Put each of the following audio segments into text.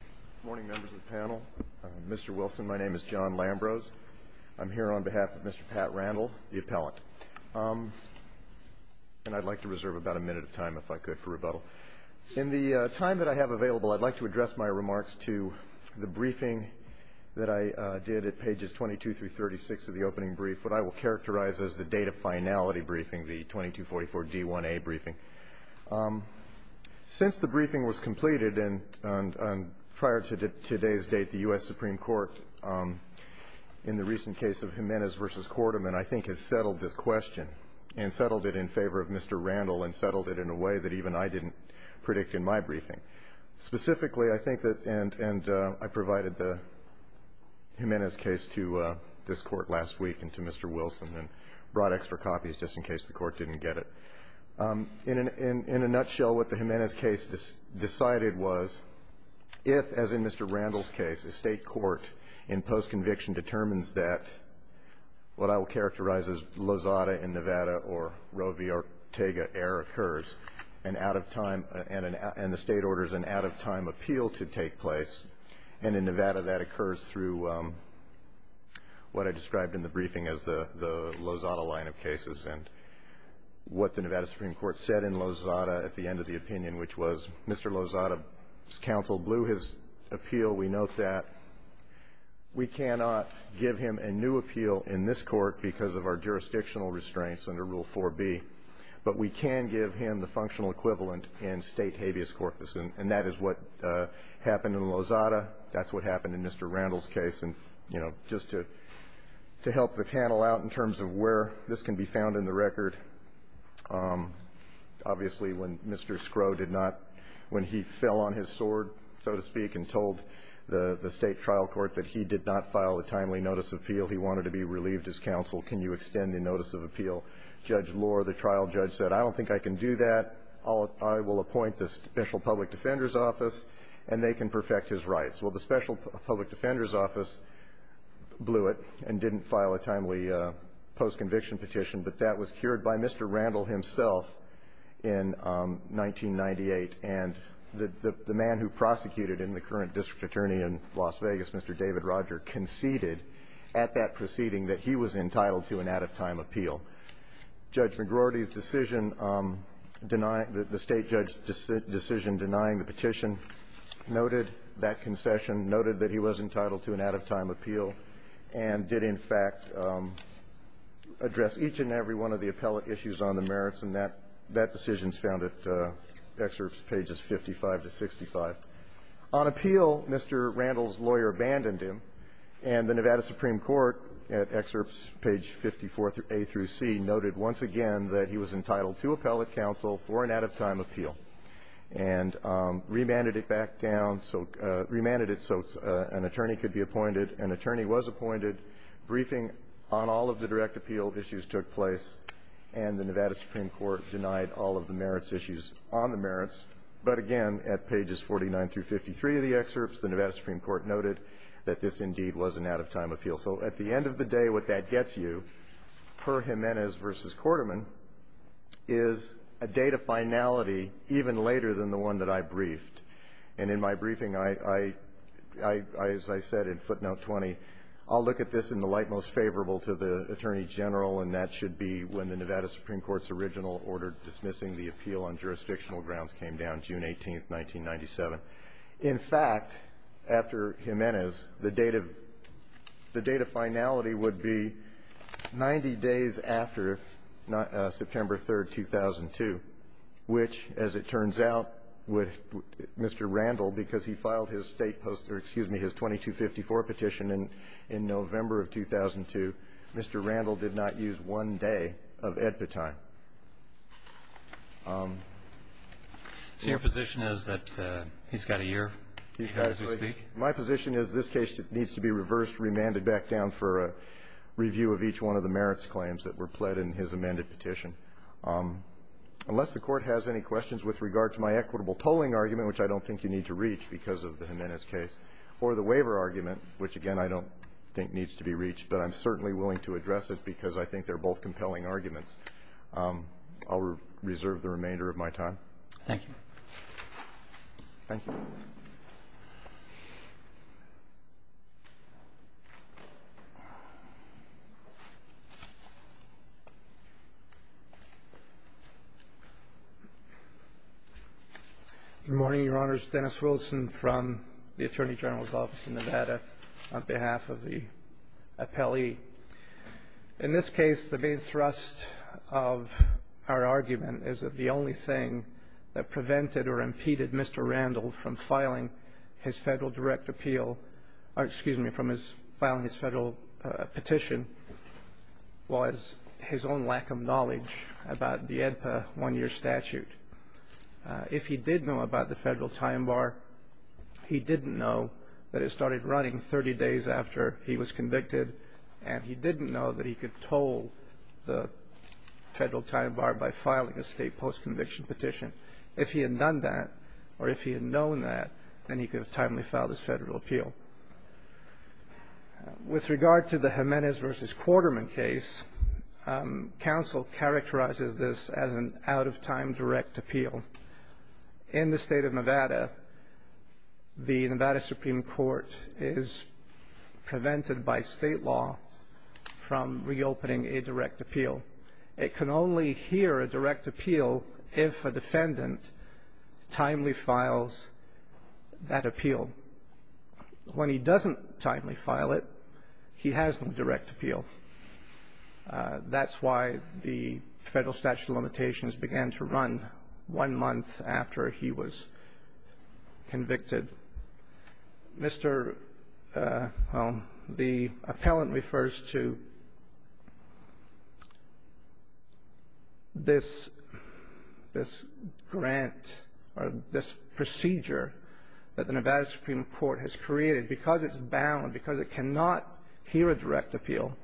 Good morning, members of the panel. Mr. Wilson, my name is John Lambrose. I'm here on behalf of Mr. Pat Randle, the appellant. And I'd like to reserve about a minute of time, if I could, for rebuttal. In the time that I have available, I'd like to address my remarks to the briefing that I did at pages 22 through 36 of the opening brief, what I will characterize as the date of finality briefing, the 2244 D1A briefing. Since the briefing was completed, and prior to today's date, the U.S. Supreme Court, in the recent case of Jimenez v. Quarterman, I think, has settled this question and settled it in favor of Mr. Randle and settled it in a way that even I didn't predict in my briefing. Specifically, I think that – and I provided the Jimenez case to this Court last week and to Mr. Wilson and brought extra copies just in case the Court didn't get it. In a nutshell, what the Jimenez case decided was, if, as in Mr. Randle's case, a State court, in post-conviction, determines that what I will characterize as Lozada in Nevada or Roe v. Ortega error occurs, an out-of-time – and the State orders an out-of-time appeal to take place. And in Nevada, that occurs through what I described in the briefing as the Lozada line of cases. And what the Nevada Supreme Court said in Lozada at the end of the opinion, which was, Mr. Lozada's counsel blew his appeal. We note that we cannot give him a new appeal in this Court because of our jurisdictional restraints under Rule 4b. But we can give him the functional equivalent in State habeas corpus. And that is what happened in Lozada. That's what happened in Mr. Randle's case. And, you know, just to help the panel out in terms of where this can be found in the record, obviously, when Mr. Scrow did not – when he fell on his sword, so to speak, and told the State trial court that he did not file a timely notice of appeal, he wanted to be relieved as counsel. Can you extend the notice of appeal? Judge Lohr, the trial judge, said, I don't think I can do that. I will appoint the Special Public Defender's Office, and they can perfect his rights. Well, the Special Public Defender's Office blew it and didn't file a timely post-conviction petition. But that was cured by Mr. Randle himself in 1998. And the man who prosecuted him, the current district attorney in Las Vegas, Mr. David Roger, conceded at that proceeding that he was entitled to an out-of-time appeal. So Judge McGroarty's decision denying – the State judge's decision denying the petition noted that concession, noted that he was entitled to an out-of-time appeal, and did, in fact, address each and every one of the appellate issues on the merits. And that decision is found at excerpts pages 55 to 65. On appeal, Mr. Randle's lawyer abandoned him, and the Nevada Supreme Court, at excerpts page 54A through C, noted once again that he was entitled to appellate counsel for an out-of-time appeal, and remanded it back down, so – remanded it so an attorney could be appointed. An attorney was appointed. Briefing on all of the direct appeal issues took place, and the Nevada Supreme Court denied all of the merits issues on the merits. But again, at pages 49 through 53 of the excerpts, the Nevada Supreme Court noted that this, indeed, was an out-of-time appeal. So at the end of the day, what that gets you, per Jimenez v. Quarterman, is a date of finality even later than the one that I briefed. And in my briefing, I – as I said in footnote 20, I'll look at this in the light most favorable to the Attorney General, and that should be when the Nevada Supreme Court's original order dismissing the appeal on jurisdictional grounds came down, June 18th, 1997. In fact, after Jimenez, the date of – the date of finality would be 90 days after September 3rd, 2002, which, as it turns out, would – Mr. Randle, because he filed his state post – or excuse me, his 2254 petition in November of 2002, Mr. Randle did not use one day of AEDPA time. So your position is that he's got a year to speak? My position is this case needs to be reversed, remanded back down for a review of each one of the merits claims that were pled in his amended petition. Unless the Court has any questions with regard to my equitable tolling argument, which I don't think you need to reach because of the Jimenez case, or the waiver argument, which, again, I don't think needs to be reached, but I'm certainly willing to address it because I think they're both compelling arguments, I'll reserve the remainder of my time. Thank you. Thank you. Good morning, Your Honors. Dennis Wilson from the Attorney General's Office in Nevada on behalf of the appellee. In this case, the main thrust of our argument is that the only thing that prevented or impeded Mr. Randle from filing his Federal direct appeal or, excuse me, from filing his Federal petition was his own lack of knowledge about the AEDPA one-year statute. If he did know about the Federal time bar, he didn't know that it started running 30 days after he was convicted, and he didn't know that he could toll the Federal time bar by filing a state post-conviction petition. If he had done that, or if he had known that, then he could have timely filed his Federal appeal. With regard to the Jimenez v. Quarterman case, counsel characterizes this as an out-of-time direct appeal. In the state of Nevada, the Nevada Supreme Court is prevented by state law from reopening a direct appeal. It can only hear a direct appeal if a defendant timely files that appeal. When he doesn't timely file it, he has no direct appeal. That's why the Federal statute of limitations began to run one month after he was convicted. Mr. Holmes, the appellant refers to this grant or this procedure that the Nevada Supreme Court has created. Because it's bound, because it cannot hear a direct appeal,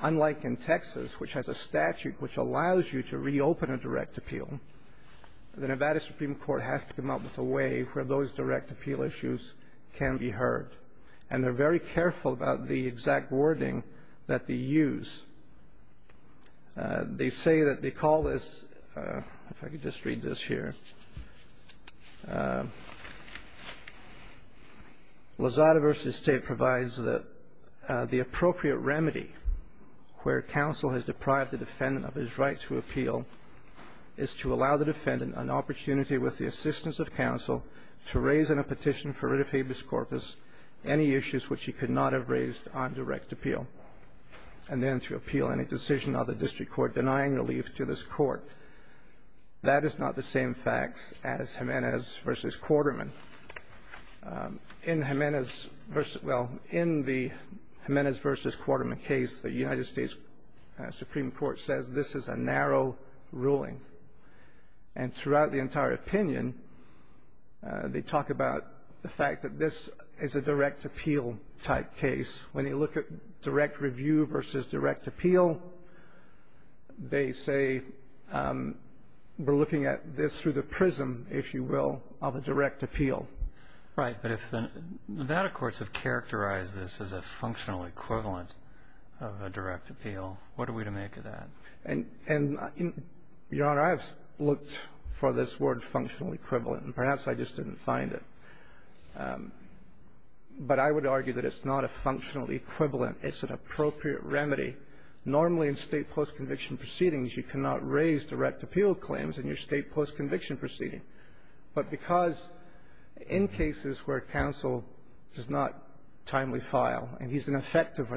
unlike in Texas, which has a statute which allows you to reopen a direct appeal, the Nevada Supreme Court has to come up with a way where those direct appeal issues can be heard. And they're very careful about the exact wording that they use. They say that they call this, if I could just read this here, Lazada v. State provides that the appropriate remedy where counsel has deprived the defendant of his right to appeal is to allow the defendant an opportunity with the assistance of counsel to raise in a petition for writ of habeas corpus any issues which he could not have raised on direct appeal, and then to appeal any decision of the district court denying relief to this court. That is not the same facts as Jimenez v. Quarterman. In Jimenez v. — well, in the Jimenez v. Quarterman case, the United States Supreme Court says this is a narrow ruling. And throughout the entire opinion, they talk about the fact that this is a direct appeal-type case. When you look at direct review versus direct appeal, they say we're looking at this through the prism, if you will, of a direct appeal. Right. But if the Nevada courts have characterized this as a functional equivalent of a direct And, Your Honor, I have looked for this word, functional equivalent, and perhaps I just didn't find it. But I would argue that it's not a functional equivalent. It's an appropriate remedy. Normally, in State postconviction proceedings, you cannot raise direct appeal claims in your State postconviction proceeding. But because in cases where counsel does not timely file, and he's an effective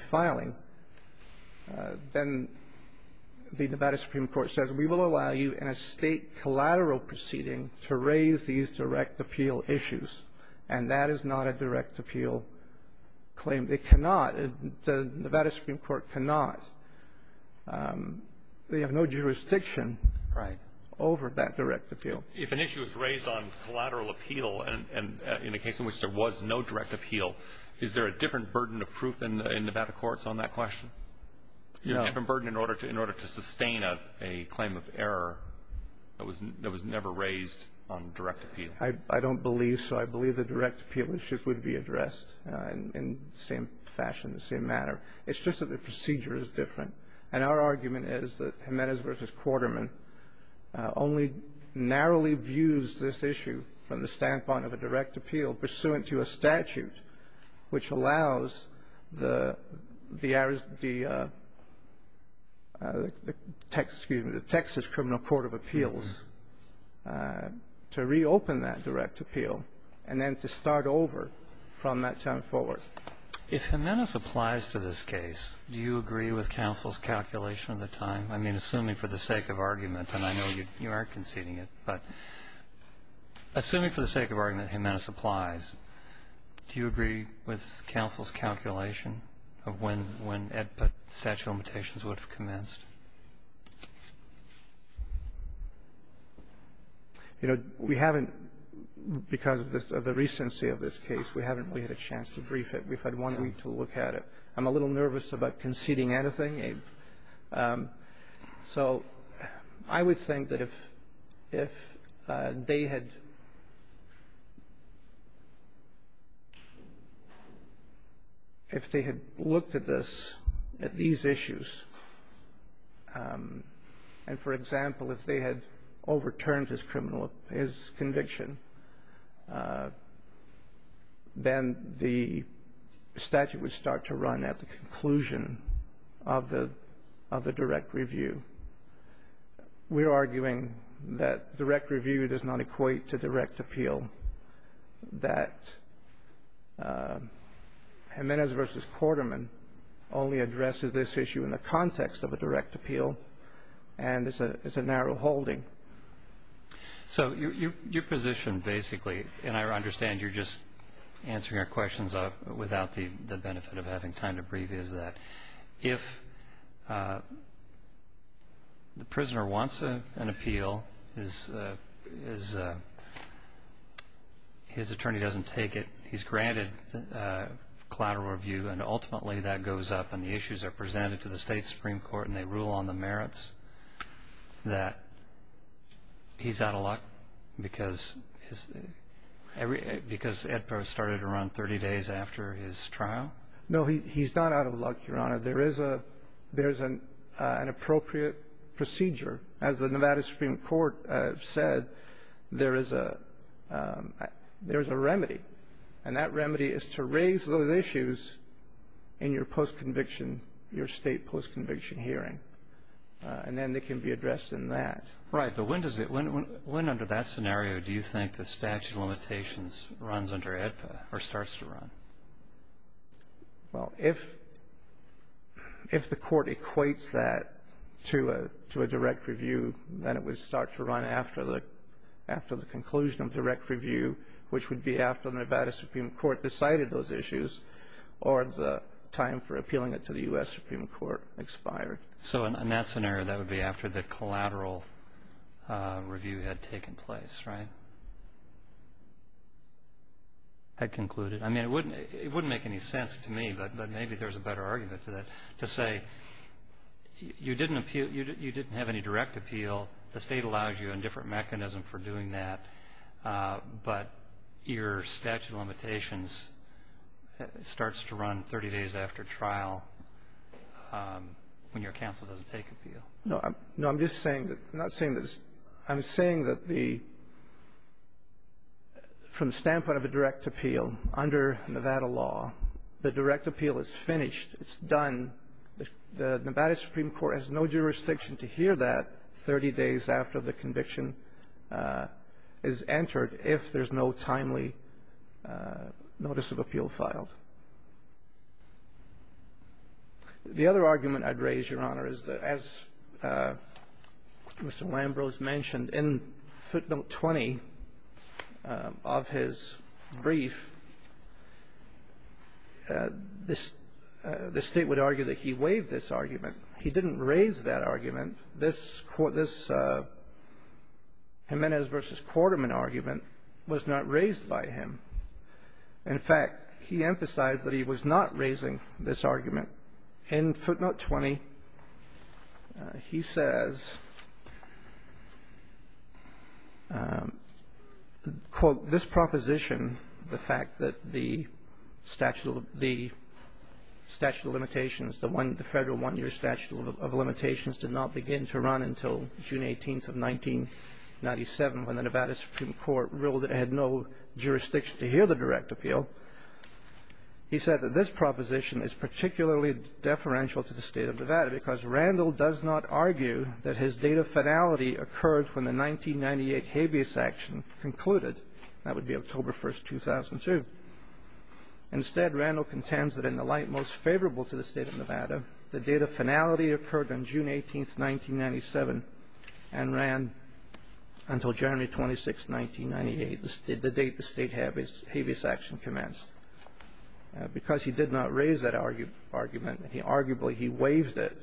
filing, then the Nevada Supreme Court says we will allow you in a State collateral proceeding to raise these direct appeal issues. And that is not a direct appeal claim. They cannot. The Nevada Supreme Court cannot. They have no jurisdiction over that direct appeal. If an issue is raised on collateral appeal and in a case in which there was no direct appeal, is there proof in Nevada courts on that question? You're given burden in order to sustain a claim of error that was never raised on direct appeal. I don't believe so. I believe the direct appeal issues would be addressed in the same fashion, the same manner. It's just that the procedure is different. And our argument is that Jimenez v. Quarterman only narrowly views this issue from the standpoint of a direct appeal pursuant to a statute which allows the Ariz the Texas, excuse me, the Texas criminal court of appeals to reopen that direct appeal and then to start over from that time forward. If Jimenez applies to this case, do you agree with counsel's calculation of the time? I mean, assuming for the sake of argument, and I know you are conceding it, but assuming for the sake of argument Jimenez applies, do you agree with counsel's calculation of when EDPA statute of limitations would have commenced? You know, we haven't, because of the recency of this case, we haven't really had a chance to brief it. We've had one week to look at it. I'm a little nervous about conceding anything. So I would think that if they had looked at this, at these issues, and, for example, if they had overturned his conviction, then the statute would start to run at the conclusion of the direct review. We're arguing that direct review does not equate to direct appeal, that Jimenez v. Quarterman only addresses this issue in the context of a direct appeal, and it's a narrow holding. So your position basically, and I understand you're just answering our questions without the benefit of having time to brief, is that if the prisoner wants an appeal, his attorney doesn't take it, he's granted collateral review, and ultimately that goes up and the issues are presented to the state Supreme Court and they rule on the merits, that he's out of luck because Ed Probst started to run 30 days after his trial? No, he's not out of luck, Your Honor. There is an appropriate procedure. As the Nevada Supreme Court said, there is a remedy, and that remedy is to raise those issues in your state post-conviction hearing, and then they can be addressed in that. Right, but when under that scenario do you think the statute of limitations runs under AEDPA or starts to run? Well, if the court equates that to a direct review, then it would start to run after the conclusion of direct review, which would be after the Nevada Supreme Court decided those issues or the time for appealing it to the U.S. Supreme Court expired. So in that scenario that would be after the collateral review had taken place, right? Had concluded. I mean, it wouldn't make any sense to me, but maybe there's a better argument to that, to say you didn't have any direct appeal, the state allows you a different mechanism for doing that, but your statute of limitations starts to run 30 days after trial when you're No, I'm just saying that the, from the standpoint of a direct appeal, under Nevada law, the direct appeal is finished, it's done, the Nevada Supreme Court has no jurisdiction to hear that 30 days after the conviction is entered if there's no timely notice of appeal filed. The other argument I'd raise, Your Honor, is that the Nevada Supreme Court, as Mr. Lambrose mentioned, in footnote 20 of his brief, the state would argue that he waived this argument. He didn't raise that argument. This Jimenez v. Quarterman argument was not raised by him. In fact, he emphasized that he was not raising this argument. In footnote 20, he says, quote, this proposition, the fact that the statute of limitations, the federal one-year statute of limitations did not begin to run until June 18th of 1997 when the Nevada Supreme Court ruled it had no jurisdiction to hear the direct appeal. He said that this proposition is particularly deferential to the State of Nevada because Randall does not argue that his date of finality occurred when the 1998 habeas action concluded, that would be October 1st, 2002. Instead, Randall contends that in the light most favorable to the State of Nevada, the date of finality occurred on June 18th, 1997 and ran until January 26th, 1998, the date the State habeas action commenced. Because he did not raise that argument, he arguably he waived it,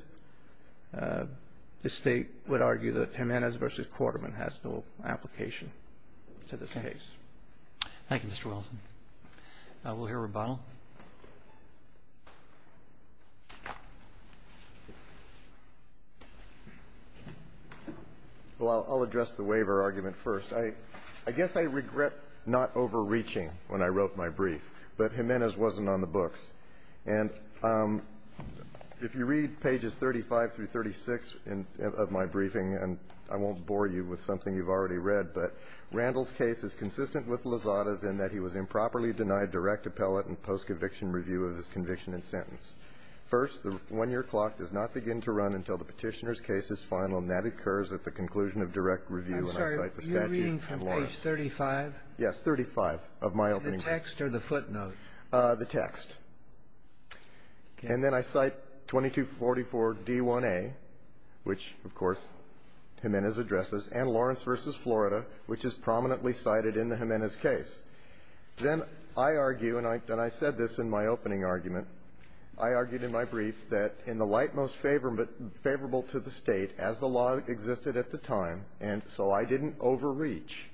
the State would argue that Jimenez v. Quarterman has no application to this case. Thank you, Mr. Wilson. We'll hear Rebono. Well, I'll address the waiver argument first. I guess I regret not overreaching when I wrote my brief, but Jimenez wasn't on the books. And if you read pages 35 through 36 of my briefing, and I won't bore you with it, Jimenez is consistent with Lozada's in that he was improperly denied direct appellate and post-conviction review of his conviction and sentence. First, the 1-year clock does not begin to run until the Petitioner's case is final, and that occurs at the conclusion of direct review, and I cite the statute and Lawrence. I'm sorry. Are you reading from page 35? Yes, 35 of my opening brief. The text or the footnote? The text. And then I cite 2244d1a, which, of course, Jimenez addresses, and Lawrence v. Florida, which is prominently cited in the Jimenez case. Then I argue, and I said this in my opening argument, I argued in my brief that in the light most favorable to the State, as the law existed at the time, and so I didn't overreach,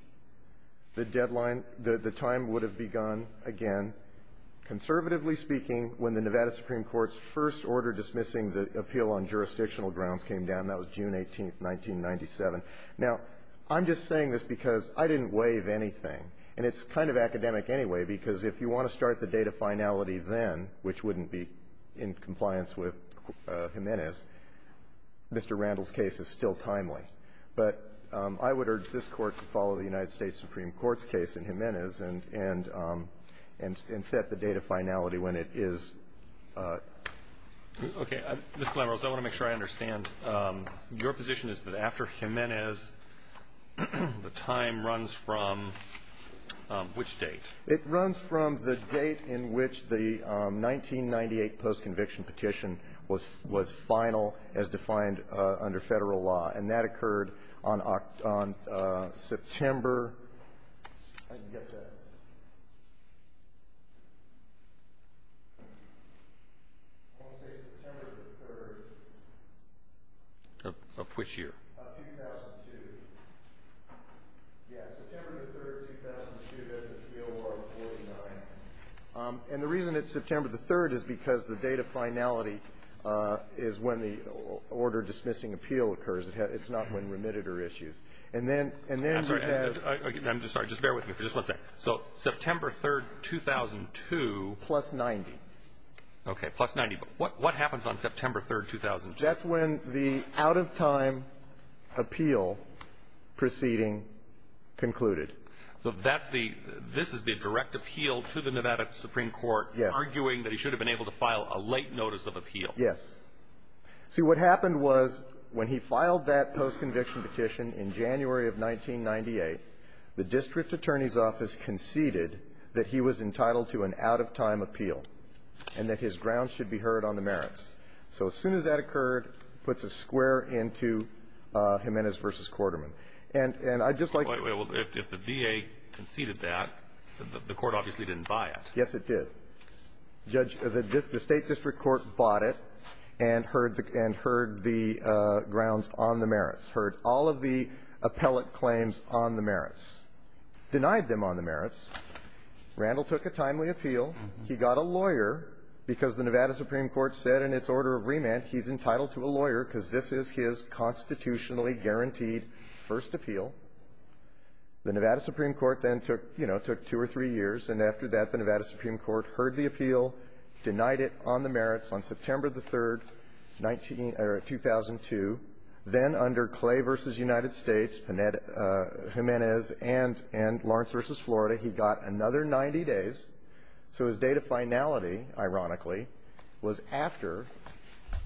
the deadline the time would have begun again, conservatively speaking, when the Nevada Supreme Court's first order dismissing the appeal on jurisdictional grounds came down. That was June 18th, 1997. Now, I'm just saying this because I didn't waive anything. And it's kind of academic anyway, because if you want to start the date of finality then, which wouldn't be in compliance with Jimenez, Mr. Randall's case is still timely. But I would urge this Court to follow the United States Supreme Court's case in Jimenez and set the date of finality when it is appropriate. Okay. Mr. Lambros, I want to make sure I understand. Your position is that after Jimenez, the time runs from which date? It runs from the date in which the 1998 post-conviction petition was final as defined under Federal law. And that occurred on September I want to say September the 3rd. Of which year? Of 2002. Yeah. September the 3rd, 2002, that's the appeal on 49th. And the reason it's September the 3rd is because the date of finality is when the order dismissing appeal occurs. It's not when remitted or issues. And then you have the ---- I'm sorry. Just bear with me for just one second. So September 3rd, 2002 ---- Plus 90. Okay. Plus 90. But what happens on September 3rd, 2002? That's when the out-of-time appeal proceeding concluded. So that's the ---- this is the direct appeal to the Nevada Supreme Court arguing that he should have been able to file a late notice of appeal. Yes. See, what happened was when he filed that post-conviction petition in January of 1998, the district attorney's office conceded that he was entitled to an out-of-time appeal and that his grounds should be heard on the merits. So as soon as that occurred, puts a square into Jimenez v. Quarterman. And I'd just like to ---- Well, if the DA conceded that, the Court obviously didn't buy it. Yes, it did. Judge, the State district court bought it and heard the grounds on the merits, heard all of the appellate claims on the merits, denied them on the merits. Randall took a timely appeal. He got a lawyer because the Nevada Supreme Court said in its order of remand he's entitled to a lawyer because this is his constitutionally guaranteed first appeal. The Nevada Supreme Court then took, you know, took two or three years, and after that, the Nevada Supreme Court heard the appeal, denied it on the merits on September 3rd, 19 or 2002. Then under Clay v. United States, Jimenez, and Lawrence v. Florida, he got a lawyer and he got another 90 days. So his date of finality, ironically, was after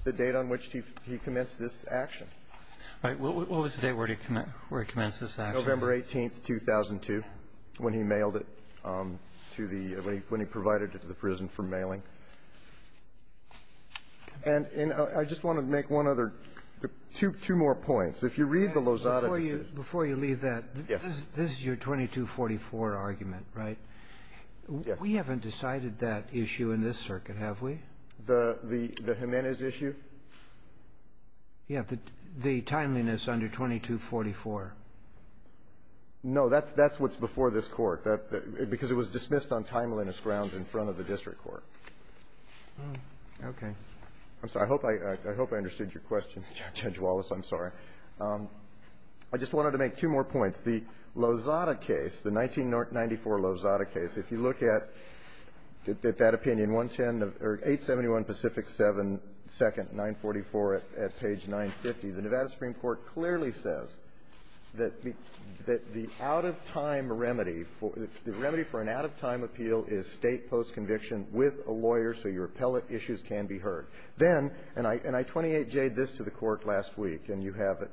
the date on which he commenced this action. All right. What was the date where he commenced this action? November 18th, 2002, when he mailed it to the ---- when he provided it to the prison for mailing. And I just want to make one other ---- two more points. If you read the Lozada decision ---- Before you leave that ---- Yes. This is your 2244 argument, right? Yes. We haven't decided that issue in this circuit, have we? The Jimenez issue? Yes. The timeliness under 2244. No. That's what's before this Court. Because it was dismissed on timeliness grounds in front of the district court. Okay. I'm sorry. I hope I understood your question, Judge Wallace. I'm sorry. I just wanted to make two more points. The Lozada case, the 1994 Lozada case, if you look at that opinion, 871 Pacific 7, 2nd, 944 at page 950, the Nevada Supreme Court clearly says that the out-of-time remedy for ---- the remedy for an out-of-time appeal is State postconviction with a lawyer so your appellate issues can be heard. Then, and I 28J'd this to the Court last week, and you have it,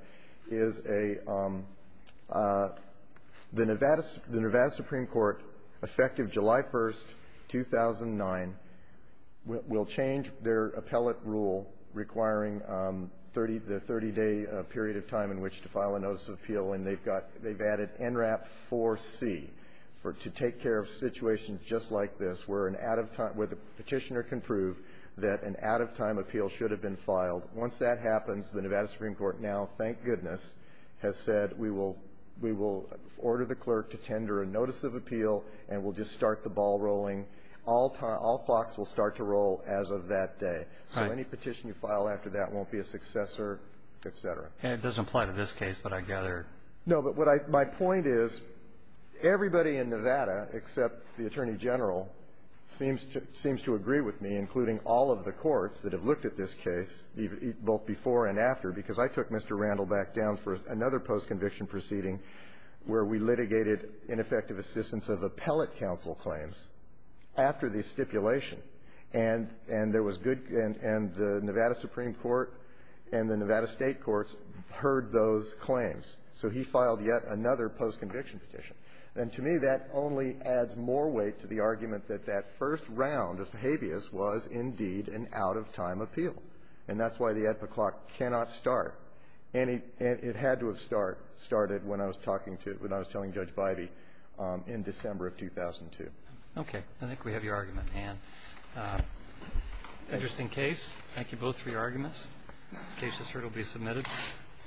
is a ---- the Nevada Supreme Court, effective July 1st, 2009, will change their appellate rule requiring the 30-day period of time in which to file a notice of appeal, and they've got ---- they've added NRAP 4C to take care of situations just like this where an out-of-time where the petitioner can prove that an out-of-time appeal should have been filed. Once that happens, the Nevada Supreme Court now, thank goodness, has said we will order the clerk to tender a notice of appeal, and we'll just start the ball rolling. All talks will start to roll as of that day. So any petition you file after that won't be a successor, et cetera. And it doesn't apply to this case, but I gather ---- No, but what I ---- my point is everybody in Nevada except the Attorney General seems to ---- seems to agree with me, including all of the courts that have looked at this case, both before and after, because I took Mr. Randle back down for another postconviction proceeding where we litigated ineffective assistance of appellate counsel claims after the stipulation, and there was good ---- and the Nevada Supreme Court and the Nevada State courts heard those claims. So he filed yet another postconviction petition. And to me, that only adds more weight to the argument that that first round of habeas was indeed an out-of-time appeal. And that's why the at-the-clock cannot start. And it had to have started when I was talking to ---- when I was telling Judge Bivey in December of 2002. Okay. I think we have your argument, Ann. Interesting case. Thank you both for your arguments. The case is heard. It will be submitted.